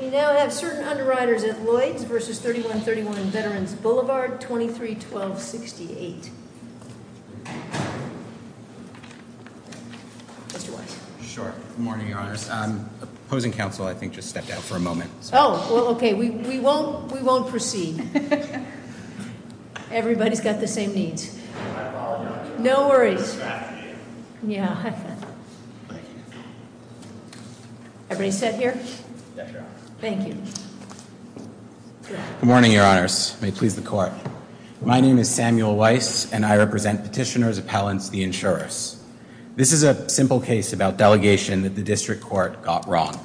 We now have certain underwriters at Lloyds v. 3131 Veterans Blvd, 2312-68. Mr. Wise. Sure. Good morning, Your Honor. Opposing counsel, I think, just stepped out for a moment. Oh, well, okay. We won't proceed. Everybody's got the same needs. I apologize. No worries. Everybody set here? Thank you. Good morning, Your Honors. May it please the Court. My name is Samuel Wise, and I represent petitioner's appellants, the insurers. This is a simple case about delegation that the District Court got wrong.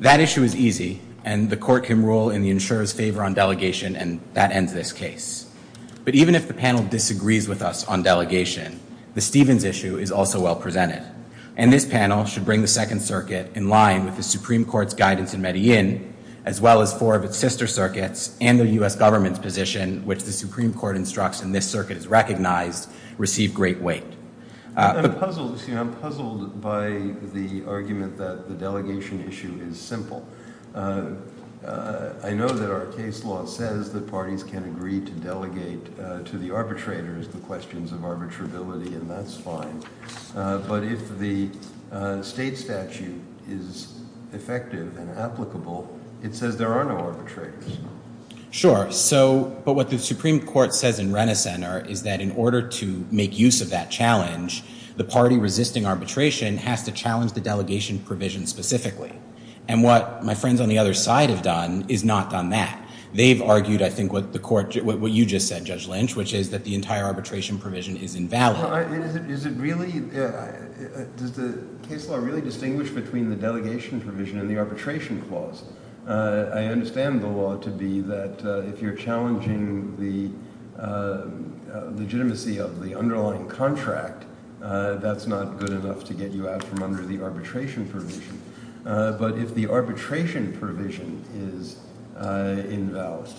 That issue is easy, and the Court can rule in the insurer's favor on delegation, and that ends this case. But even if the panel disagrees with us on delegation, the Stevens issue is also well presented, and this panel should bring the Second Circuit in line with the Supreme Court's guidance in Medellin, as well as four of its sister circuits and the U.S. government's position, which the Supreme Court instructs in this circuit is recognized, receive great weight. I'm puzzled by the argument that the delegation issue is simple. I know that our case law says that parties can agree to delegate to the arbitrators the questions of arbitrability, and that's fine. But if the state statute is effective and applicable, it says there are no arbitrators. Sure. But what the Supreme Court says in Renaissance is that in order to make use of that challenge, the party resisting arbitration has to challenge the delegation provision specifically. And what my friends on the other side have done is not done that. They've argued, I think, what you just said, Judge Lynch, which is that the entire arbitration provision is invalid. Does the case law really distinguish between the delegation provision and the arbitration clause? I understand the law to be that if you're challenging the legitimacy of the underlying contract, that's not good enough to get you out from under the arbitration provision. But if the arbitration provision is invalid,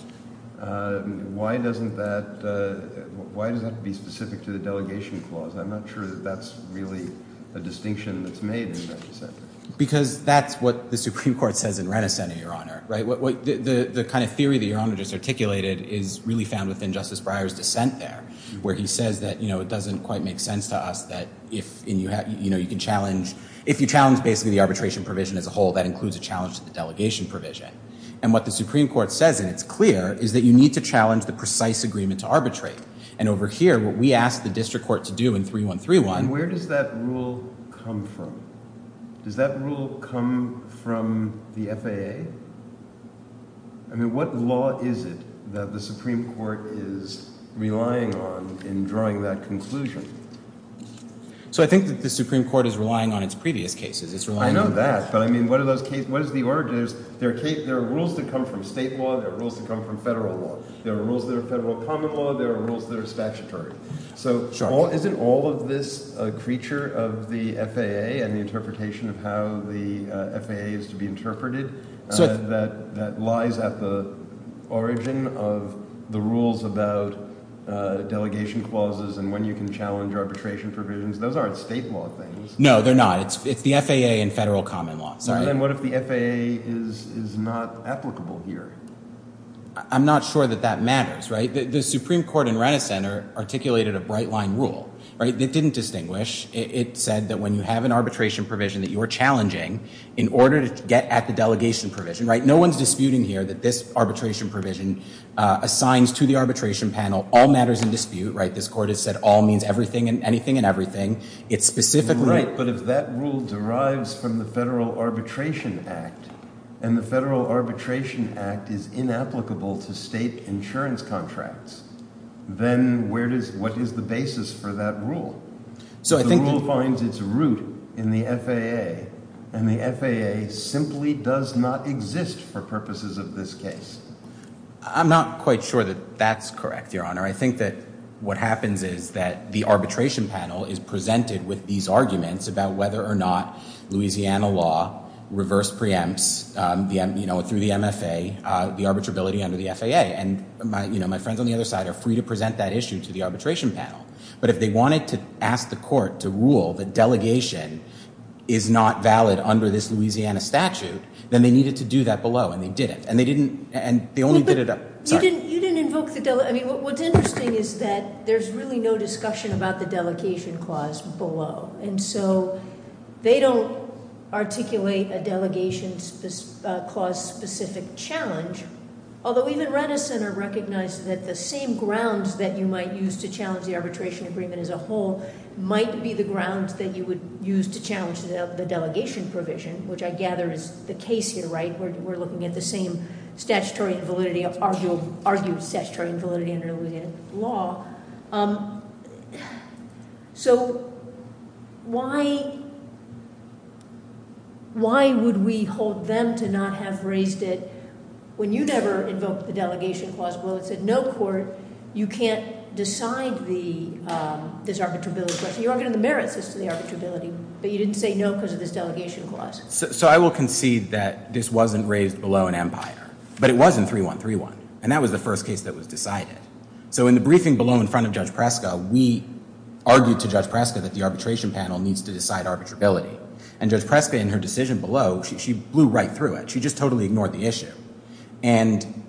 why doesn't that be specific to the delegation clause? I'm not sure that that's really a distinction that's made in Renaissance. Because that's what the Supreme Court says in Renaissance, Your Honor. The kind of theory that Your Honor just articulated is really found within Justice Breyer's dissent there, where he says that it doesn't quite make sense to us that if you challenge basically the arbitration provision as a whole, that includes a challenge to the delegation provision. And what the Supreme Court says, and it's clear, is that you need to challenge the precise agreement to arbitrate. And over here, what we asked the district court to do in 3131— And where does that rule come from? Does that rule come from the FAA? I mean, what law is it that the Supreme Court is relying on in drawing that conclusion? So I think that the Supreme Court is relying on its previous cases. I know that, but I mean, what is the origin? There are rules that come from state law. There are rules that come from federal law. There are rules that are federal common law. There are rules that are statutory. So isn't all of this a creature of the FAA and the interpretation of how the FAA is to be interpreted that lies at the origin of the rules about delegation clauses and when you can challenge arbitration provisions? Those aren't state law things. No, they're not. It's the FAA and federal common law. Then what if the FAA is not applicable here? I'm not sure that that matters. The Supreme Court in Renison articulated a bright-line rule. It didn't distinguish. It said that when you have an arbitration provision that you're challenging, in order to get at the delegation provision—no one's disputing here that this arbitration provision assigns to the arbitration panel, all matters in dispute. This Court has said all means anything and everything. Right, but if that rule derives from the Federal Arbitration Act, and the Federal Arbitration Act is inapplicable to state insurance contracts, then what is the basis for that rule? The rule finds its root in the FAA, and the FAA simply does not exist for purposes of this case. I'm not quite sure that that's correct, Your Honor. I think that what happens is that the arbitration panel is presented with these arguments about whether or not Louisiana law reverse preempts, through the MFA, the arbitrability under the FAA. My friends on the other side are free to present that issue to the arbitration panel, but if they wanted to ask the Court to rule that delegation is not valid under this Louisiana statute, then they needed to do that below, and they didn't. You didn't invoke the—I mean, what's interesting is that there's really no discussion about the delegation clause below, and so they don't articulate a delegation clause-specific challenge, although even Renneson recognized that the same grounds that you might use to challenge the arbitration agreement as a whole might be the grounds that you would use to challenge the delegation provision, which I gather is the case here, right? We're looking at the same statutory and validity—argued statutory and validity under Louisiana law. So, why— why would we hold them to not have raised it? When you never invoked the delegation clause below, it said, no, Court, you can't decide this arbitrability question. You're arguing the merits as to the arbitrability, but you didn't say no because of this delegation clause. So I will concede that this wasn't raised below in Empire, but it was in 3131, and that was the first case that was decided. So in the briefing below in front of Judge Preska, we argued to Judge Preska that the arbitration panel needs to decide arbitrability, and Judge Preska, in her decision below, she blew right through it. She just totally ignored the issue. And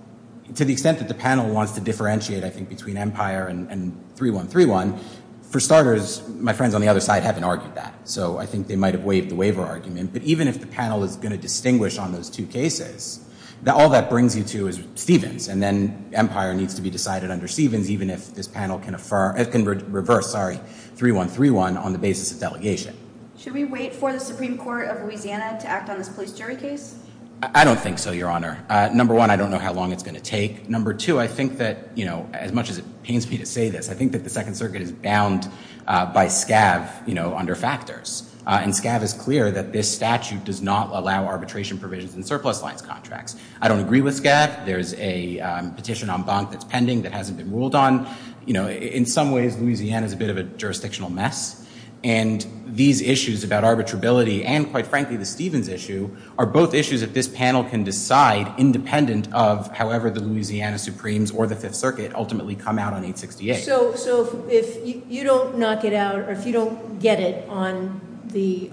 to the extent that the panel wants to differentiate, I think, between Empire and 3131, for starters, my friends on the other side haven't argued that, so I think they might have waived the waiver argument, but even if the panel is going to distinguish on those two cases, all that brings you to is Stevens, and then Empire needs to be decided under Stevens, even if this panel can reverse 3131 on the basis of delegation. Should we wait for the Supreme Court of Louisiana to act on this police jury case? I don't think so, Your Honor. Number one, I don't know how long it's going to take. Number two, I think that, you know, as much as it pains me to say this, I think that the Second Circuit is bound by scab, you know, under factors. And scab is clear that this statute does not allow arbitration provisions in surplus lines contracts. I don't agree with scab. There's a petition en banc that's pending that hasn't been ruled on. You know, in some ways, Louisiana is a bit of a jurisdictional mess. And these issues about arbitrability and, quite frankly, the Stevens issue are both issues that this panel can decide independent of however the Louisiana Supremes or the Fifth Circuit ultimately come out on in 1968. So if you don't knock it out, or if you don't get it on the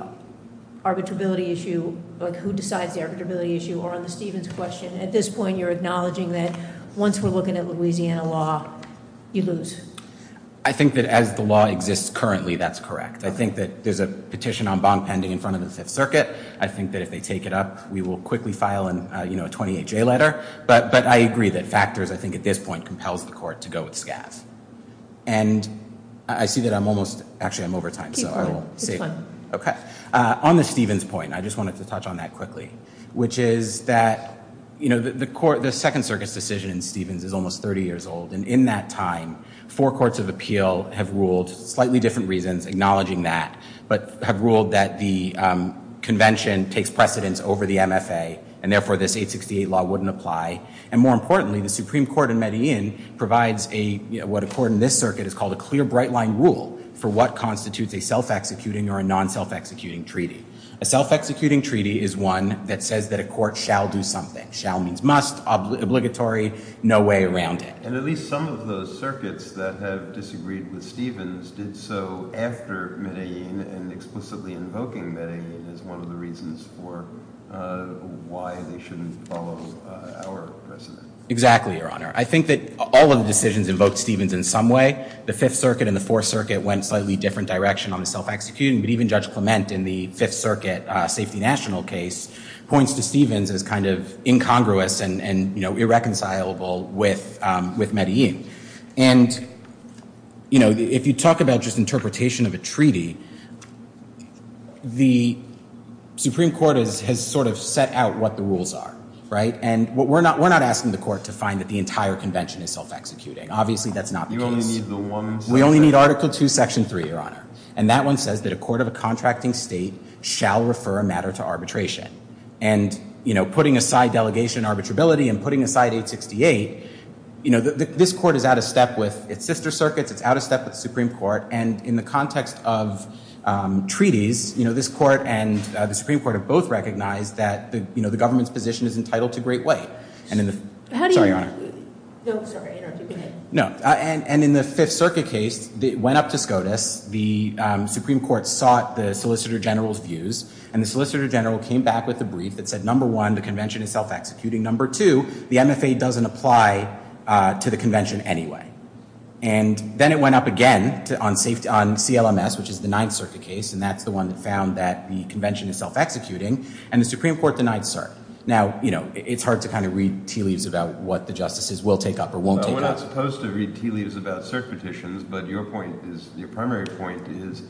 arbitrability issue, like who decides the arbitrability issue, or on the Stevens question, at this point you're acknowledging that once we're looking at Louisiana law, you lose. I think that as the law exists currently, that's correct. I think that there's a petition en banc pending in front of the Fifth Circuit. I think that if they take it up, we will quickly file a 28-J letter. But I agree that factors, I think at this point, compels the court to go with scab. And I see that I'm almost, actually I'm over time. On the Stevens point, I just wanted to touch on that quickly. Which is that, you know, the court, the Second Circus decision in Stevens is almost 30 years old. And in that time, four courts of appeal have ruled, slightly different reasons acknowledging that, but have ruled that the convention takes precedence over the MFA. And therefore, this 868 law wouldn't apply. And more importantly, the Supreme Court in Medellin provides what a court in this circuit is called a clear bright line rule for what constitutes a self-executing or a non-self-executing treaty. A self-executing treaty is one that says that a court shall do something. Shall means must, obligatory, no way around it. And at least some of those circuits that have disagreed with Stevens did so after Medellin and explicitly invoking Medellin as one of the reasons for why they shouldn't follow our precedent. Exactly, Your Honor. I think that all of the decisions invoked Stevens in some way. The Fifth Circuit and the Fourth Circuit went slightly different direction on the self-executing. But even Judge Clement in the Fifth Circuit was not reconcilable with Medellin. And if you talk about just interpretation of a treaty, the Supreme Court has sort of set out what the rules are. And we're not asking the court to find that the entire convention is self-executing. Obviously that's not the case. We only need Article 2, Section 3, Your Honor. And that one says that a court of a contracting state shall refer a matter to arbitration. And putting aside delegation arbitrability and putting aside 868, this court is out of step with its sister circuits. It's out of step with the Supreme Court. And in the context of treaties, this court and the Supreme Court have both recognized that the government's position is entitled to great weight. Sorry, Your Honor. No. And in the Fifth Circuit case, it went up to SCOTUS. The Supreme Court sought the Solicitor General's views. And the Solicitor General came back with a brief that said, number one, the convention is self-executing. Number two, the MFA doesn't apply to the convention anyway. And then it went up again on CLMS, which is the Ninth Circuit case. And that's the one that found that the convention is self-executing. And the Supreme Court denied cert. Now, you know, it's hard to kind of read tea leaves about what the justices will take up or won't take up. We're not supposed to read tea leaves about cert petitions. But your point is, your primary point is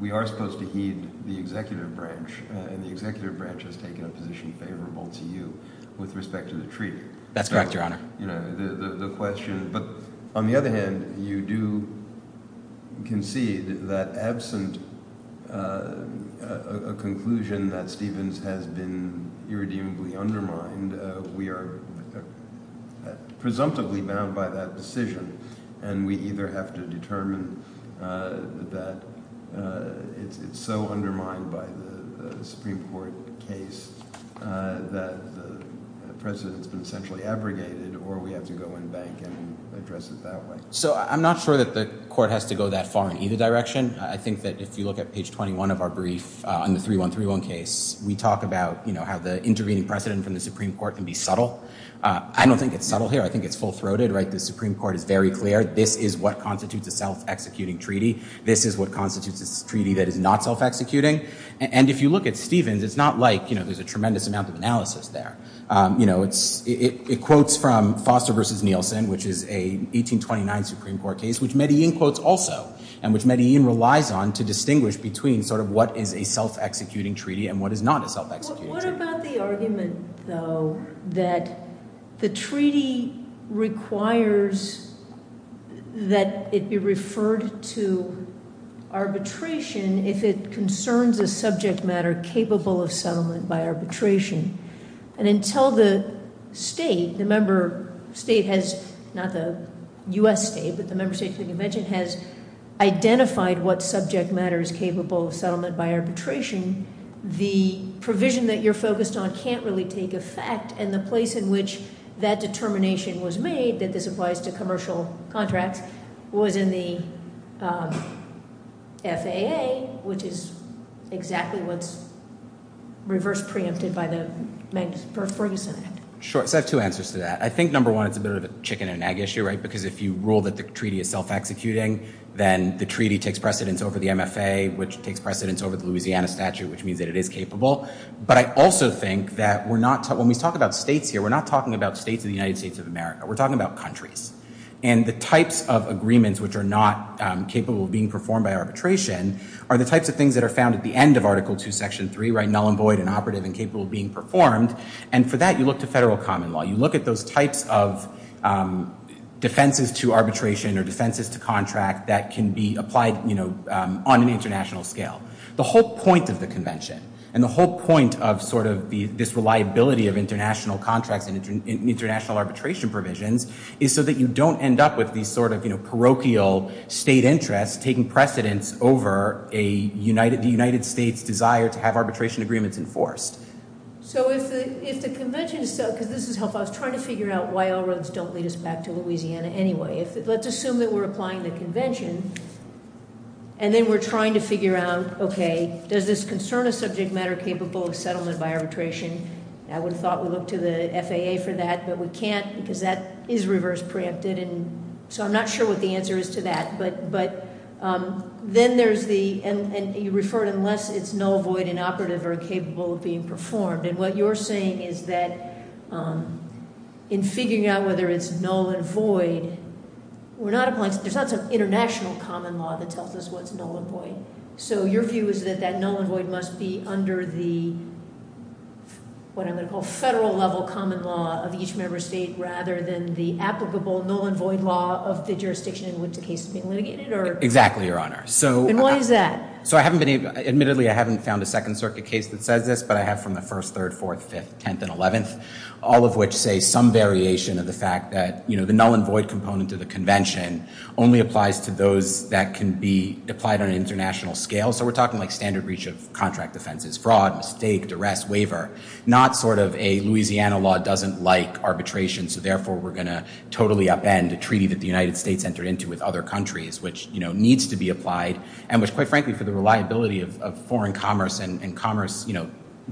we are supposed to heed the executive branch. And the executive branch has taken a position favorable to you with respect to the treaty. That's correct, Your Honor. You know, the question. But on the other hand, you do concede that absent a conclusion that Stevens has been irredeemably undermined, we are presumptively bound by that decision. And we either have to determine that it's so undermined by the Supreme Court case that the precedent's been centrally abrogated or we have to go in bank and address it that way. So I'm not sure that the court has to go that far in either direction. I think that if you look at page 21 of our brief on the 3131 case, we talk about, you know, how the intervening precedent from the Supreme Court can be subtle. I don't think it's subtle here. I think it's full-throated, right? The Supreme Court is very clear. This is what constitutes a self-executing treaty. This is what constitutes a treaty that is not self-executing. And if you look at Stevens, it's not like, you know, there's a tremendous amount of analysis there. It quotes from Foster v. Nielsen, which is a 1829 Supreme Court case, which Medellin quotes also. And which Medellin relies on to distinguish between sort of what is a self-executing treaty and what is not a self-executing treaty. What about the argument, though, that the treaty requires that it be referred to arbitration if it concerns a subject matter capable of settlement by arbitration? And until the state, the member state has, not the US state, but the member state of the convention, has identified what subject matter is capable of settlement by arbitration, the provision that you're focused on can't really take effect. And the place in which that determination was made, that this applies to commercial contracts, was in the FAA, which is exactly what's reverse preempted by the Ferguson Act. Sure. So I have two answers to that. I think, number one, it's a bit of a chicken and egg issue, right? Because if you rule that the treaty is self-executing, then the treaty takes precedence over the MFA, which takes precedence over the Louisiana statute, which means that it is capable. But I also think that we're not, when we talk about states here, we're not talking about states of the United States of America. We're talking about countries. And the types of agreements which are not capable of being performed by arbitration are the types of things that are found at the end of Article II, Section 3, null and void and operative and capable of being performed. And for that, you look to federal common law. You look at those types of defenses to arbitration or defenses to contract that can be applied on an international scale. The whole point of the convention and the whole point of this reliability of international contracts and international arbitration provisions is so that you don't end up with these sort of parochial state interests taking precedence over the United States' desire to have arbitration agreements enforced. So if the convention, because this is helpful, I was trying to figure out why all roads don't lead us back to Louisiana anyway. Let's assume that we're applying the convention and then we're trying to figure out, okay, does this concern a subject matter capable of settlement by arbitration? I would have thought we looked to the FAA for that, but we can't because that is reverse preempted and so I'm not sure what the answer is to that. But then there's the, and you referred unless it's null, void, and operative are capable of being performed. And what you're saying is that in figuring out whether it's null and void, we're not applying, there's not some international common law that tells us what's null and void. So your view is that that null and void must be under the what I'm going to call federal level common law of each member state rather than the applicable null and void law of the jurisdiction in which the case is being litigated? Exactly, Your Honor. And why is that? Admittedly, I haven't found a Second Circuit case that says this, but I have from the 1st, 3rd, 4th, 5th, 10th, and 11th. All of which say some variation of the fact that the null and void component of the convention only applies to those that can be applied on an international scale. So we're talking like standard reach of contract offenses, fraud, mistake, duress, waiver. Not sort of a Louisiana law doesn't like arbitration, so therefore we're going to totally upend a treaty that the United States entered into with other countries, which needs to be applied and which, quite frankly, for the reliability of foreign commerce and commerce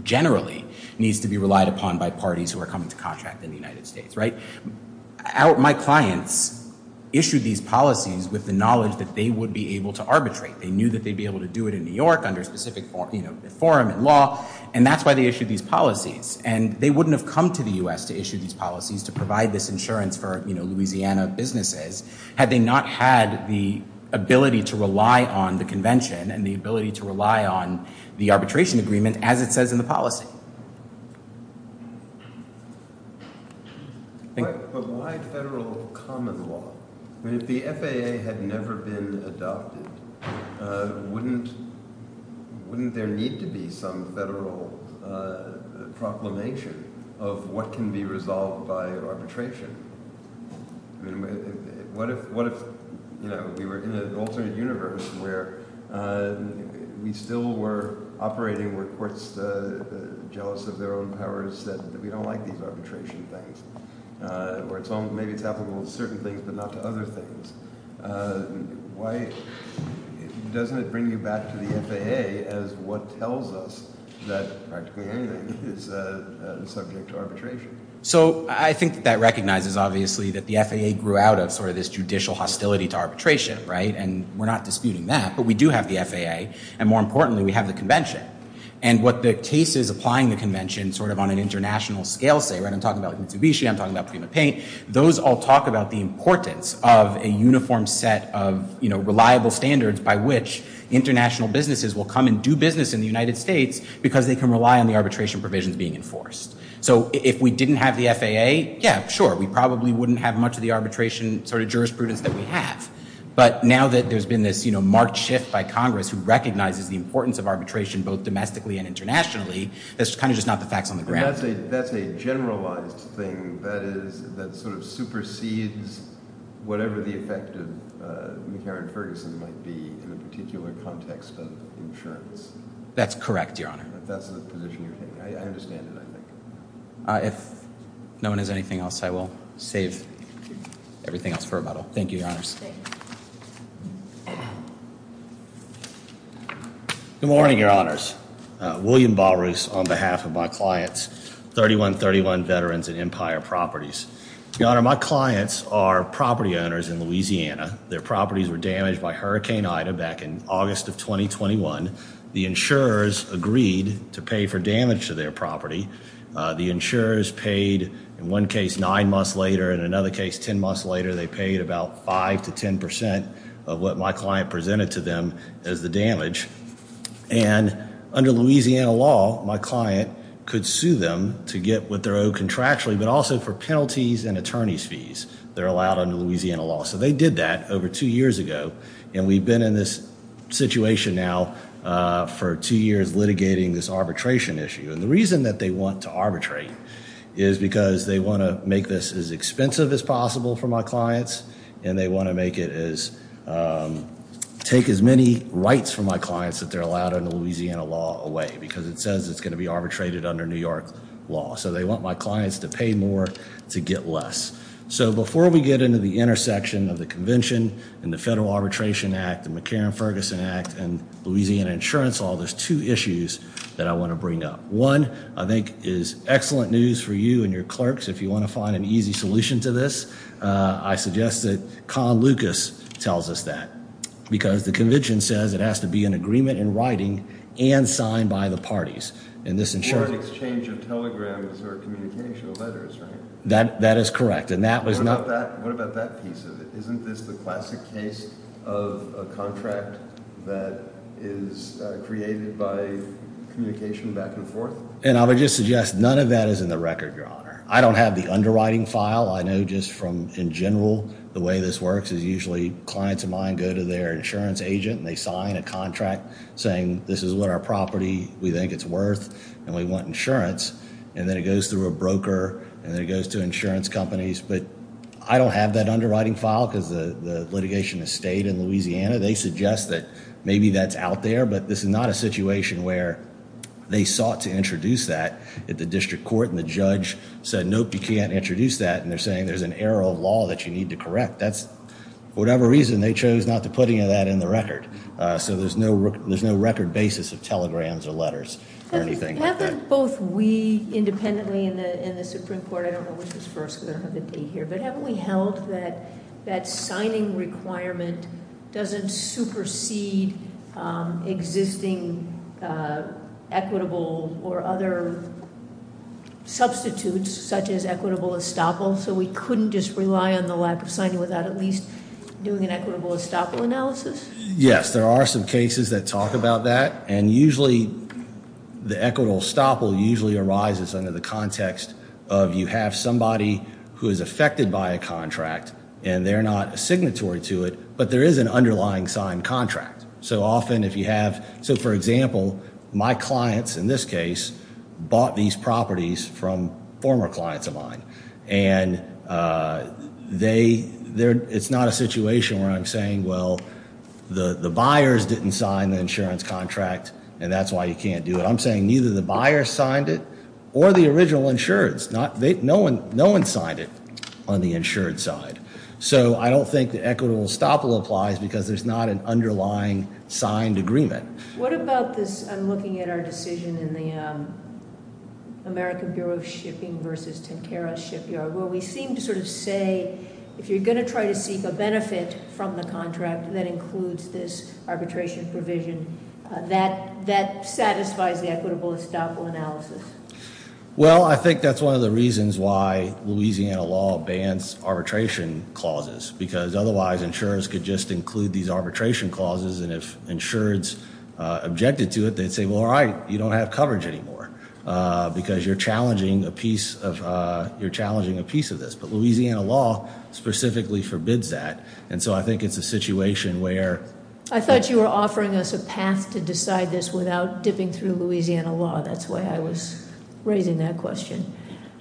generally needs to be relied upon by parties who are coming to contract in the United States. My clients issued these policies with the knowledge that they would be able to arbitrate. They knew that they'd be able to do it in New York under a specific forum and law, and that's why they issued these policies. And they wouldn't have come to the U.S. to issue these policies to provide this insurance for Louisiana businesses had they not had the ability to rely on the convention and the ability to rely on the arbitration agreement as it says in the policy. But why federal common law? If the FAA had never been adopted, wouldn't there need to be some federal proclamation of what can be resolved by arbitration? I mean, what if, you know, we were in an alternate universe where we still were operating where courts, jealous of their own powers, said that we don't like these arbitration things, or maybe it's applicable to certain things but not to other things. Why doesn't it bring you back to the FAA as what tells us that practically anything is subject to arbitration? So I think that recognizes obviously that the FAA grew out of sort of this judicial hostility to arbitration, right? And we're not disputing that, but we do have the FAA. And more importantly, we have the convention. And what the case is applying the convention sort of on an international scale, right? I'm talking about Mitsubishi. I'm talking about Prima Paint. Those all talk about the importance of a uniform set of reliable standards by which international businesses will come and do business in the United States because they can rely on the arbitration provisions being enforced. So if we didn't have the FAA, yeah, sure, we probably wouldn't have much of the arbitration sort of jurisprudence that we have. But now that there's been this marked shift by Congress who recognizes the importance of arbitration both domestically and internationally, that's kind of just not the facts on the ground. That's a generalized thing that sort of supersedes whatever the effect of McCarran-Ferguson might be in a particular context of insurance. That's correct, Your Honor. That's the position you're taking. I understand it, I think. If no one has anything else, I will save everything else for rebuttal. Thank you, Your Honors. Good morning, Your Honors. William Balrus on behalf of my clients, 3131 Veterans and Empire Properties. Your Honor, my clients are property owners in Louisiana. Their properties were damaged by Hurricane Ida back in August of 2021. The insurers agreed to pay for damage to their property. The insurers paid, in one case, nine months later. In another case, ten months later, they paid about five to ten percent of what my client presented to them as the damage. And under Louisiana law, my client could sue them to get what they're owed contractually, but also for penalties and attorney's fees. They're allowed under Louisiana law. So they did that over two years ago, and we've been in this situation now for two years litigating this arbitration issue. And the reason that they want to arbitrate is because they want to make this as expensive as possible for my clients, and they want to make it as take as many rights from my clients that they're allowed under Louisiana law away, because it says it's going to be arbitrated under New York law. So they want my clients to pay more to get less. So before we get into the intersection of the convention and the Federal Arbitration Act and the McCarran-Ferguson Act and Louisiana Insurance Law, there's two issues that I want to bring up. One, I think is excellent news for you and your clerks if you want to find an easy solution to this. I suggest that Con Lucas tells us that, because the convention says it has to be an agreement in writing and signed by the parties. Or an exchange of telegrams or communication letters, right? That is correct. What about that piece of it? Isn't this the classic case of a contract that is created by communication back and forth? And I would just suggest none of that is in the record, Your Honor. I don't have the underwriting file. I know just from, in general, the way this works is usually clients of mine go to their insurance agent and they sign a contract saying this is what our property, we think it's worth, and we want insurance. And then it goes through a broker, and then it goes to insurance companies. But I don't have that underwriting file, because the litigation has stayed in Louisiana. They suggest that maybe that's out there, but this is not a situation where they sought to introduce that at the district court, and the judge said, nope, you can't introduce that, and they're saying there's an error of law that you need to correct. That's, for whatever reason, they chose not to put any of that in the record. So there's no record basis of telegrams or letters or anything like that. Haven't both we, independently in the Supreme Court, I don't know which was first, because I don't have the date here, but haven't we held that that signing requirement doesn't supersede existing equitable or other substitutes, such as equitable estoppel, so we couldn't just rely on the lack of signing without at least doing an equitable estoppel analysis? Yes, there are some cases that talk about that, and usually the equitable estoppel usually arises under the context of you have somebody who is affected by a contract, and they're not a signatory to it, but there is an underlying signed contract. So often if you have, so for example, my clients in this case bought these properties from former clients of mine, and it's not a situation where I'm saying, well, the buyers didn't sign the insurance contract, and that's why you can't do it. I'm saying neither the buyers signed it or the original insureds. No one signed it on the insured side. So I don't think the equitable estoppel applies because there's not an underlying signed agreement. What about this? I'm looking at our decision in the American Bureau of Shipping versus Tentera Shipyard, where we seem to sort of say if you're going to try to seek a benefit from the contract that includes this arbitration provision, that satisfies the equitable estoppel analysis. Well, I think that's one of the reasons why Louisiana law bans arbitration clauses, because otherwise insurance could just include these arbitration clauses, and if insureds objected to it, they'd say, well, all right, you don't have coverage anymore because you're challenging a piece of this. But Louisiana law specifically forbids that. And so I think it's a situation where- I thought you were offering us a path to decide this without dipping through Louisiana law. That's why I was raising that question.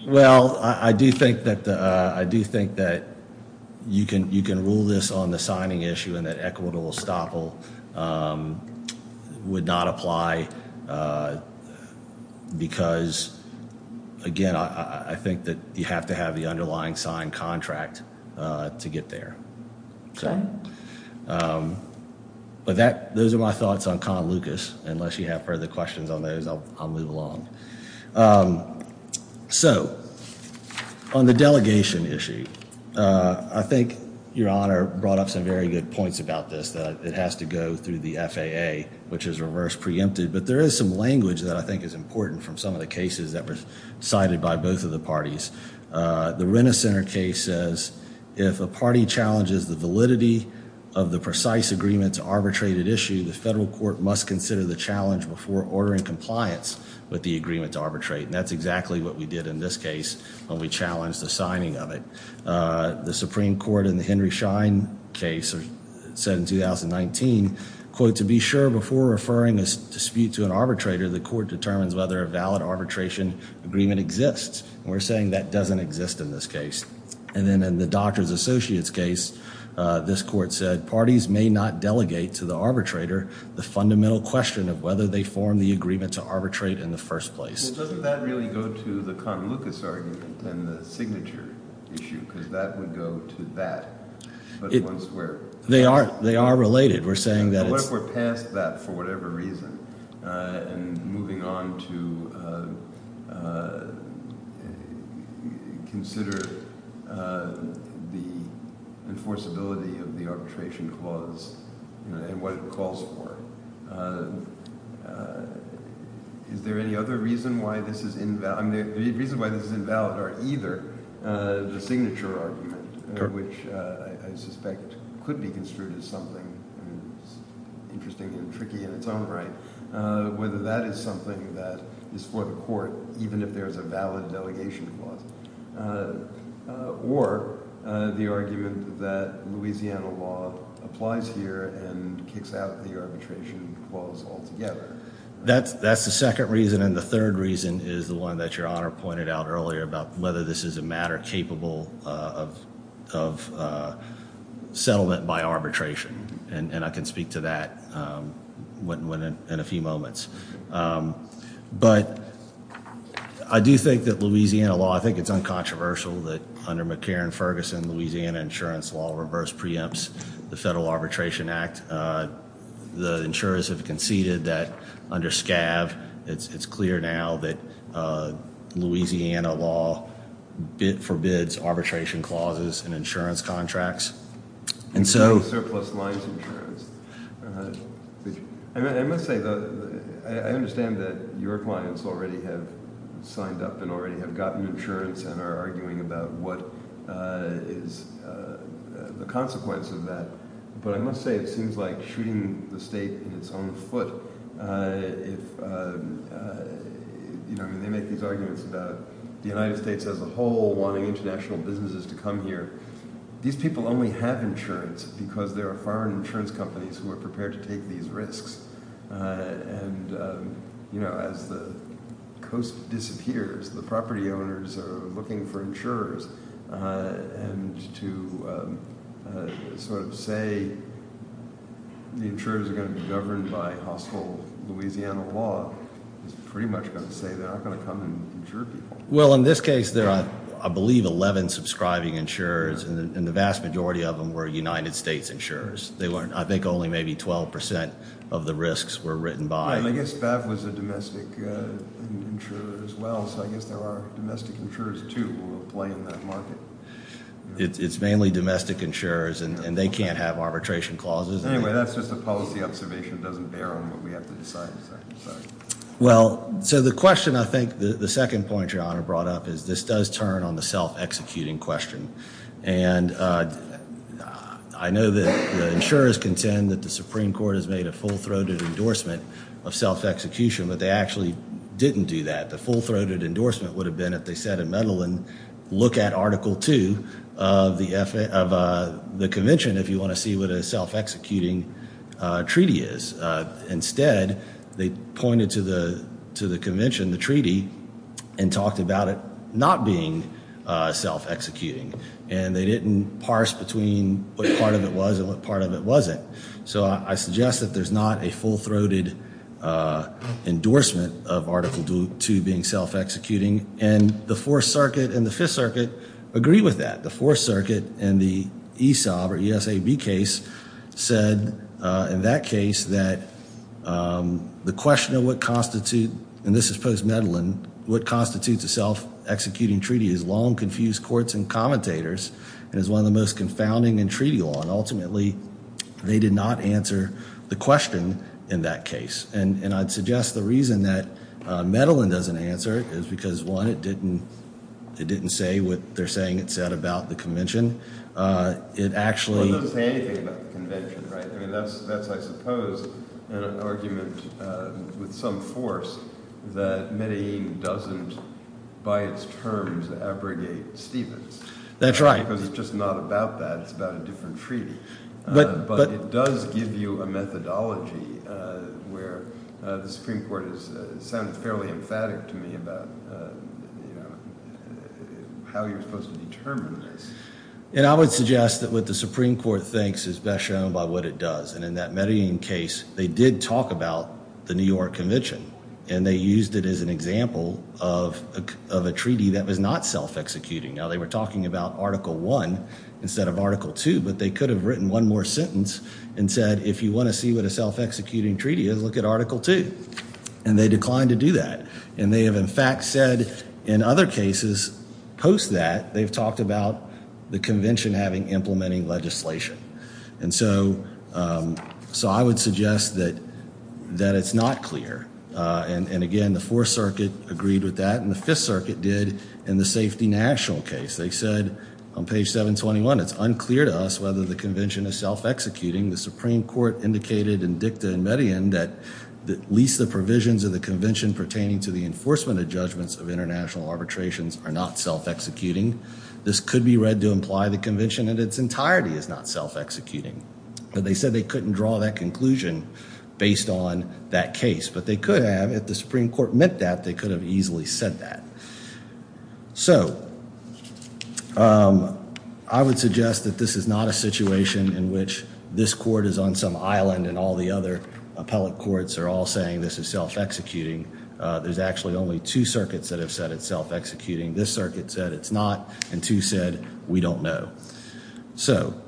Well, I do think that you can rule this on the signing issue and that equitable estoppel would not apply because, again, I think that you have to have the underlying signed contract to get there. But those are my thoughts on Con Lucas. Unless you have further questions on those, I'll move along. So on the delegation issue, I think Your Honor brought up some very good points about this, that it has to go through the FAA, which is reverse preempted. But there is some language that I think is important from some of the cases that were cited by both of the parties. The Renner Center case says, if a party challenges the validity of the precise agreement to arbitrate an issue, the federal court must consider the challenge before ordering compliance with the agreement to arbitrate. And that's exactly what we did in this case when we challenged the signing of it. The Supreme Court in the Henry Schein case said in 2019, quote, to be sure before referring a dispute to an arbitrator, the court determines whether a valid arbitration agreement exists. We're saying that doesn't exist in this case. And then in the Doctors Associates case, this court said, parties may not delegate to the arbitrator the fundamental question of whether they form the agreement to arbitrate in the first place. Well, doesn't that really go to the Cotton Lucas argument and the signature issue? Because that would go to that. But once we're – They are related. We're saying that it's – But what if we're past that for whatever reason and moving on to consider the enforceability of the arbitration clause and what it calls for? Is there any other reason why this is – the reason why this is invalid are either the signature argument, which I suspect could be construed as something interesting and tricky in its own right, whether that is something that is for the court even if there is a valid delegation clause, or the argument that Louisiana law applies here and kicks out the arbitration clause altogether? That's the second reason. And the third reason is the one that Your Honor pointed out earlier about whether this is a matter capable of settlement by arbitration. And I can speak to that in a few moments. But I do think that Louisiana law – I think it's uncontroversial that under McCarran-Ferguson, Louisiana insurance law reverse preempts the Federal Arbitration Act. The insurers have conceded that under SCAV it's clear now that Louisiana law forbids arbitration clauses in insurance contracts. And so – Surplus lines insurance. I must say, though, I understand that your clients already have signed up and already have gotten insurance and are arguing about what is the consequence of that. But I must say it seems like shooting the state in its own foot if – I mean, they make these arguments about the United States as a whole wanting international businesses to come here. These people only have insurance because there are foreign insurance companies who are prepared to take these risks. And as the coast disappears, the property owners are looking for insurers. And to sort of say the insurers are going to be governed by hostile Louisiana law is pretty much going to say they're not going to come and insure people. Well, in this case there are, I believe, 11 subscribing insurers, and the vast majority of them were United States insurers. They weren't – I think only maybe 12 percent of the risks were written by – I guess BAV was a domestic insurer as well, so I guess there are domestic insurers, too, who will play in that market. It's mainly domestic insurers, and they can't have arbitration clauses. Anyway, that's just a policy observation. It doesn't bear on what we have to decide. Well, so the question I think – the second point Your Honor brought up is this does turn on the self-executing question. And I know that the insurers contend that the Supreme Court has made a full-throated endorsement of self-execution, but they actually didn't do that. The full-throated endorsement would have been if they said in Medellin, look at Article 2 of the convention if you want to see what a self-executing treaty is. Instead, they pointed to the convention, the treaty, and talked about it not being self-executing, and they didn't parse between what part of it was and what part of it wasn't. So I suggest that there's not a full-throated endorsement of Article 2 being self-executing, and the Fourth Circuit and the Fifth Circuit agree with that. The Fourth Circuit in the ESAB case said in that case that the question of what constitutes – and this is post-Medellin – what constitutes a self-executing treaty is long, confused courts and commentators and is one of the most confounding in treaty law. And ultimately, they did not answer the question in that case. And I'd suggest the reason that Medellin doesn't answer it is because, one, it didn't say what they're saying it said about the convention. It actually – It doesn't say anything about the convention, right? I mean that's, I suppose, an argument with some force that Medellin doesn't by its terms abrogate Stevens. That's right. Because it's just not about that. It's about a different treaty. But it does give you a methodology where the Supreme Court has sounded fairly emphatic to me about how you're supposed to determine this. And I would suggest that what the Supreme Court thinks is best shown by what it does. And in that Medellin case, they did talk about the New York Convention, and they used it as an example of a treaty that was not self-executing. Now, they were talking about Article I instead of Article II. But they could have written one more sentence and said, if you want to see what a self-executing treaty is, look at Article II. And they declined to do that. And they have, in fact, said in other cases post that they've talked about the convention having implementing legislation. And so I would suggest that it's not clear. And, again, the Fourth Circuit agreed with that, and the Fifth Circuit did in the safety national case. They said on page 721, it's unclear to us whether the convention is self-executing. The Supreme Court indicated in dicta in Medellin that at least the provisions of the convention pertaining to the enforcement of judgments of international arbitrations are not self-executing. This could be read to imply the convention in its entirety is not self-executing. But they said they couldn't draw that conclusion based on that case. But they could have, if the Supreme Court meant that, they could have easily said that. So I would suggest that this is not a situation in which this court is on some island and all the other appellate courts are all saying this is self-executing. There's actually only two circuits that have said it's self-executing. This circuit said it's not, and two said we don't know. So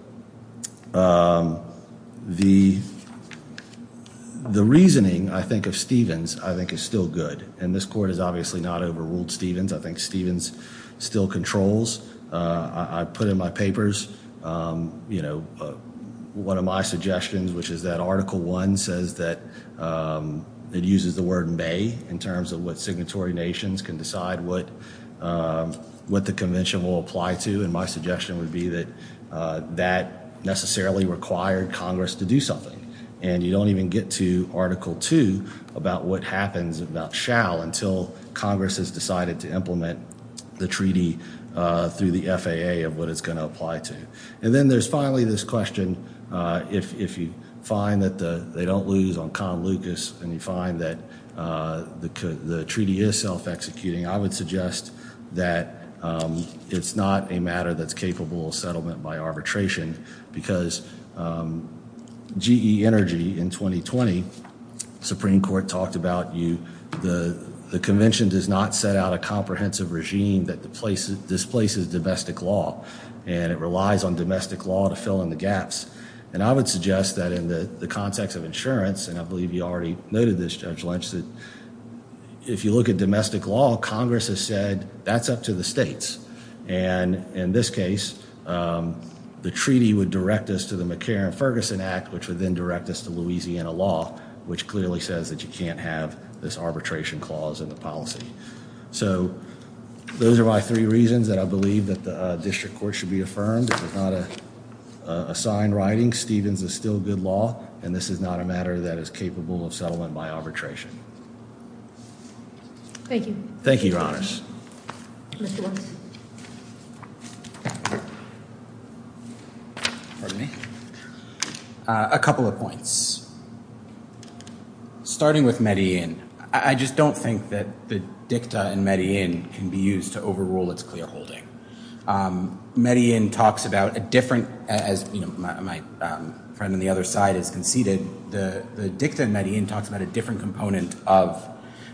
the reasoning, I think, of Stevens I think is still good. And this court has obviously not overruled Stevens. I think Stevens still controls. I put in my papers, you know, one of my suggestions, which is that Article I says that it uses the word may in terms of what signatory nations can decide what the convention will apply to. And my suggestion would be that that necessarily required Congress to do something. And you don't even get to Article II about what happens about shall until Congress has decided to implement the treaty through the FAA of what it's going to apply to. And then there's finally this question, if you find that they don't lose on Con Lucas and you find that the treaty is self-executing, I would suggest that it's not a matter that's capable of settlement by arbitration. Because GE Energy in 2020, Supreme Court talked about the convention does not set out a comprehensive regime that displaces domestic law. And it relies on domestic law to fill in the gaps. And I would suggest that in the context of insurance, and I believe you already noted this, Judge Lynch, that if you look at domestic law, Congress has said that's up to the states. And in this case, the treaty would direct us to the McCarran-Ferguson Act, which would then direct us to Louisiana law, which clearly says that you can't have this arbitration clause in the policy. So those are my three reasons that I believe that the district court should be affirmed. It's not a signed writing. Stevens is still good law. And this is not a matter that is capable of settlement by arbitration. Thank you. Thank you, Your Honors. Mr. Williams. Pardon me. A couple of points. Starting with Medellin, I just don't think that the dicta in Medellin can be used to overrule its clear holding. Medellin talks about a different, as my friend on the other side has conceded, the dicta in Medellin talks about a different component of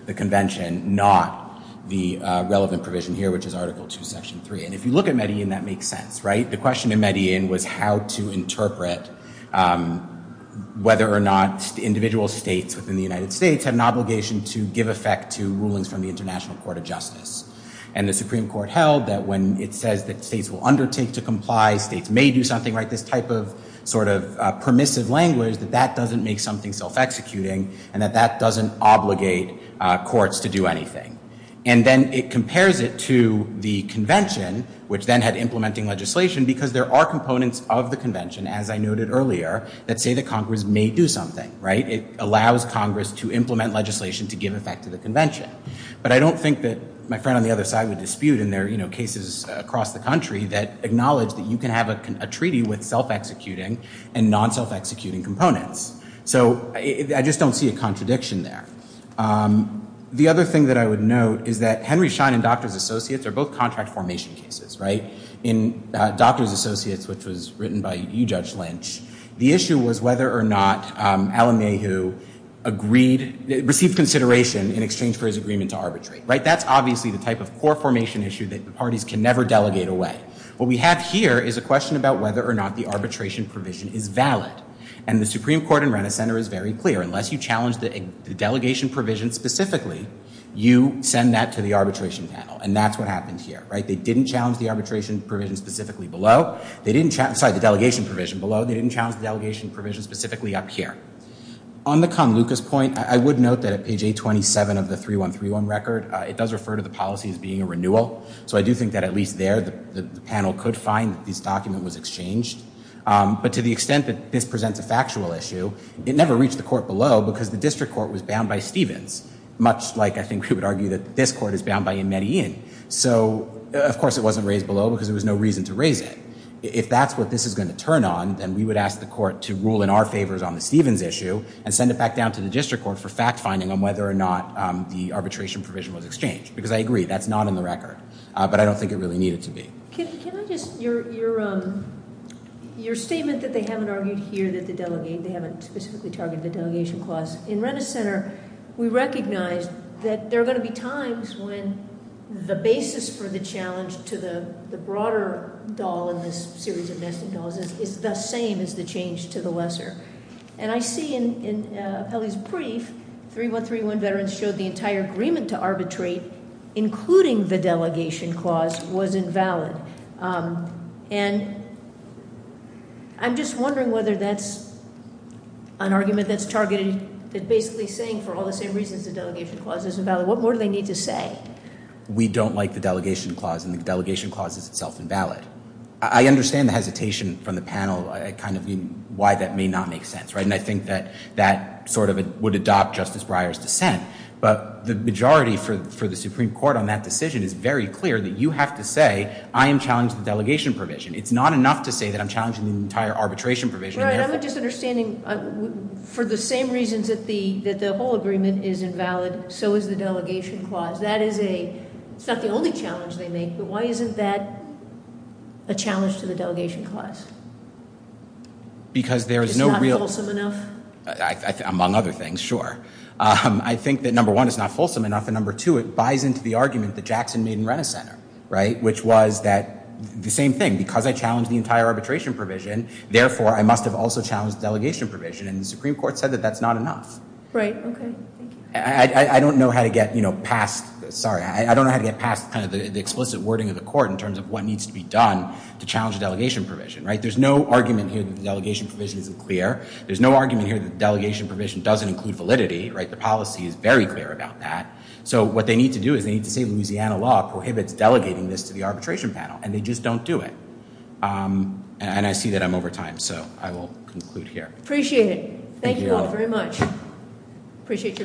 the convention, not the relevant provision here, which is Article 2, Section 3. And if you look at Medellin, that makes sense, right? The question in Medellin was how to interpret whether or not individual states within the United States have an obligation to give effect to rulings from the International Court of Justice. And the Supreme Court held that when it says that states will undertake to comply, states may do something, right, this type of sort of permissive language, that that doesn't make something self-executing and that that doesn't obligate courts to do anything. And then it compares it to the convention, which then had implementing legislation, because there are components of the convention, as I noted earlier, that say that Congress may do something, right? It allows Congress to implement legislation to give effect to the convention. But I don't think that my friend on the other side would dispute, and there are cases across the country that acknowledge that you can have a treaty with self-executing and non-self-executing components. So I just don't see a contradiction there. The other thing that I would note is that Henry Schein and Doctors Associates are both contract formation cases, right? And in Doctors Associates, which was written by you, Judge Lynch, the issue was whether or not Al-Amey, who agreed, received consideration in exchange for his agreement to arbitrate, right? That's obviously the type of core formation issue that the parties can never delegate away. What we have here is a question about whether or not the arbitration provision is valid. And the Supreme Court in Rena Center is very clear. Unless you challenge the delegation provision specifically, you send that to the arbitration panel. And that's what happened here, right? They didn't challenge the arbitration provision specifically below. They didn't challenge, sorry, the delegation provision below. They didn't challenge the delegation provision specifically up here. On the Conluca's point, I would note that at page 827 of the 3131 record, it does refer to the policy as being a renewal. So I do think that at least there, the panel could find that this document was exchanged. But to the extent that this presents a factual issue, it never reached the court below because the district court was bound by Stevens, much like I think we would argue that this court is bound by Medellin. So, of course, it wasn't raised below because there was no reason to raise it. If that's what this is going to turn on, then we would ask the court to rule in our favors on the Stevens issue and send it back down to the district court for fact finding on whether or not the arbitration provision was exchanged. Because I agree, that's not in the record. But I don't think it really needed to be. Can I just, your statement that they haven't argued here that the delegate, they haven't specifically targeted the delegation clause. In Rennes Center, we recognize that there are going to be times when the basis for the challenge to the broader doll in this series of nested dolls is the same as the change to the lesser. And I see in Kelly's brief, 3131 veterans showed the entire agreement to arbitrate, including the delegation clause, was invalid. And I'm just wondering whether that's an argument that's targeted at basically saying for all the same reasons the delegation clause is invalid. What more do they need to say? We don't like the delegation clause, and the delegation clause is itself invalid. I understand the hesitation from the panel, kind of why that may not make sense, right? And I think that that sort of would adopt Justice Breyer's dissent. But the majority for the Supreme Court on that decision is very clear that you have to say, I am challenging the delegation provision. It's not enough to say that I'm challenging the entire arbitration provision. Right, I'm just understanding for the same reasons that the whole agreement is invalid, so is the delegation clause. That is a, it's not the only challenge they make, but why isn't that a challenge to the delegation clause? Because there is no real- It's not fulsome enough? Among other things, sure. I think that number one, it's not fulsome enough, and number two, it buys into the argument that Jackson made in Renner Center, right? Which was that, the same thing, because I challenged the entire arbitration provision, therefore I must have also challenged the delegation provision. And the Supreme Court said that that's not enough. Right, okay. I don't know how to get past the explicit wording of the court in terms of what needs to be done to challenge the delegation provision. There's no argument here that the delegation provision isn't clear. There's no argument here that the delegation provision doesn't include validity. The policy is very clear about that. So what they need to do is they need to say Louisiana law prohibits delegating this to the arbitration panel, and they just don't do it. And I see that I'm over time, so I will conclude here. Appreciate it. Thank you all very much. Appreciate your time.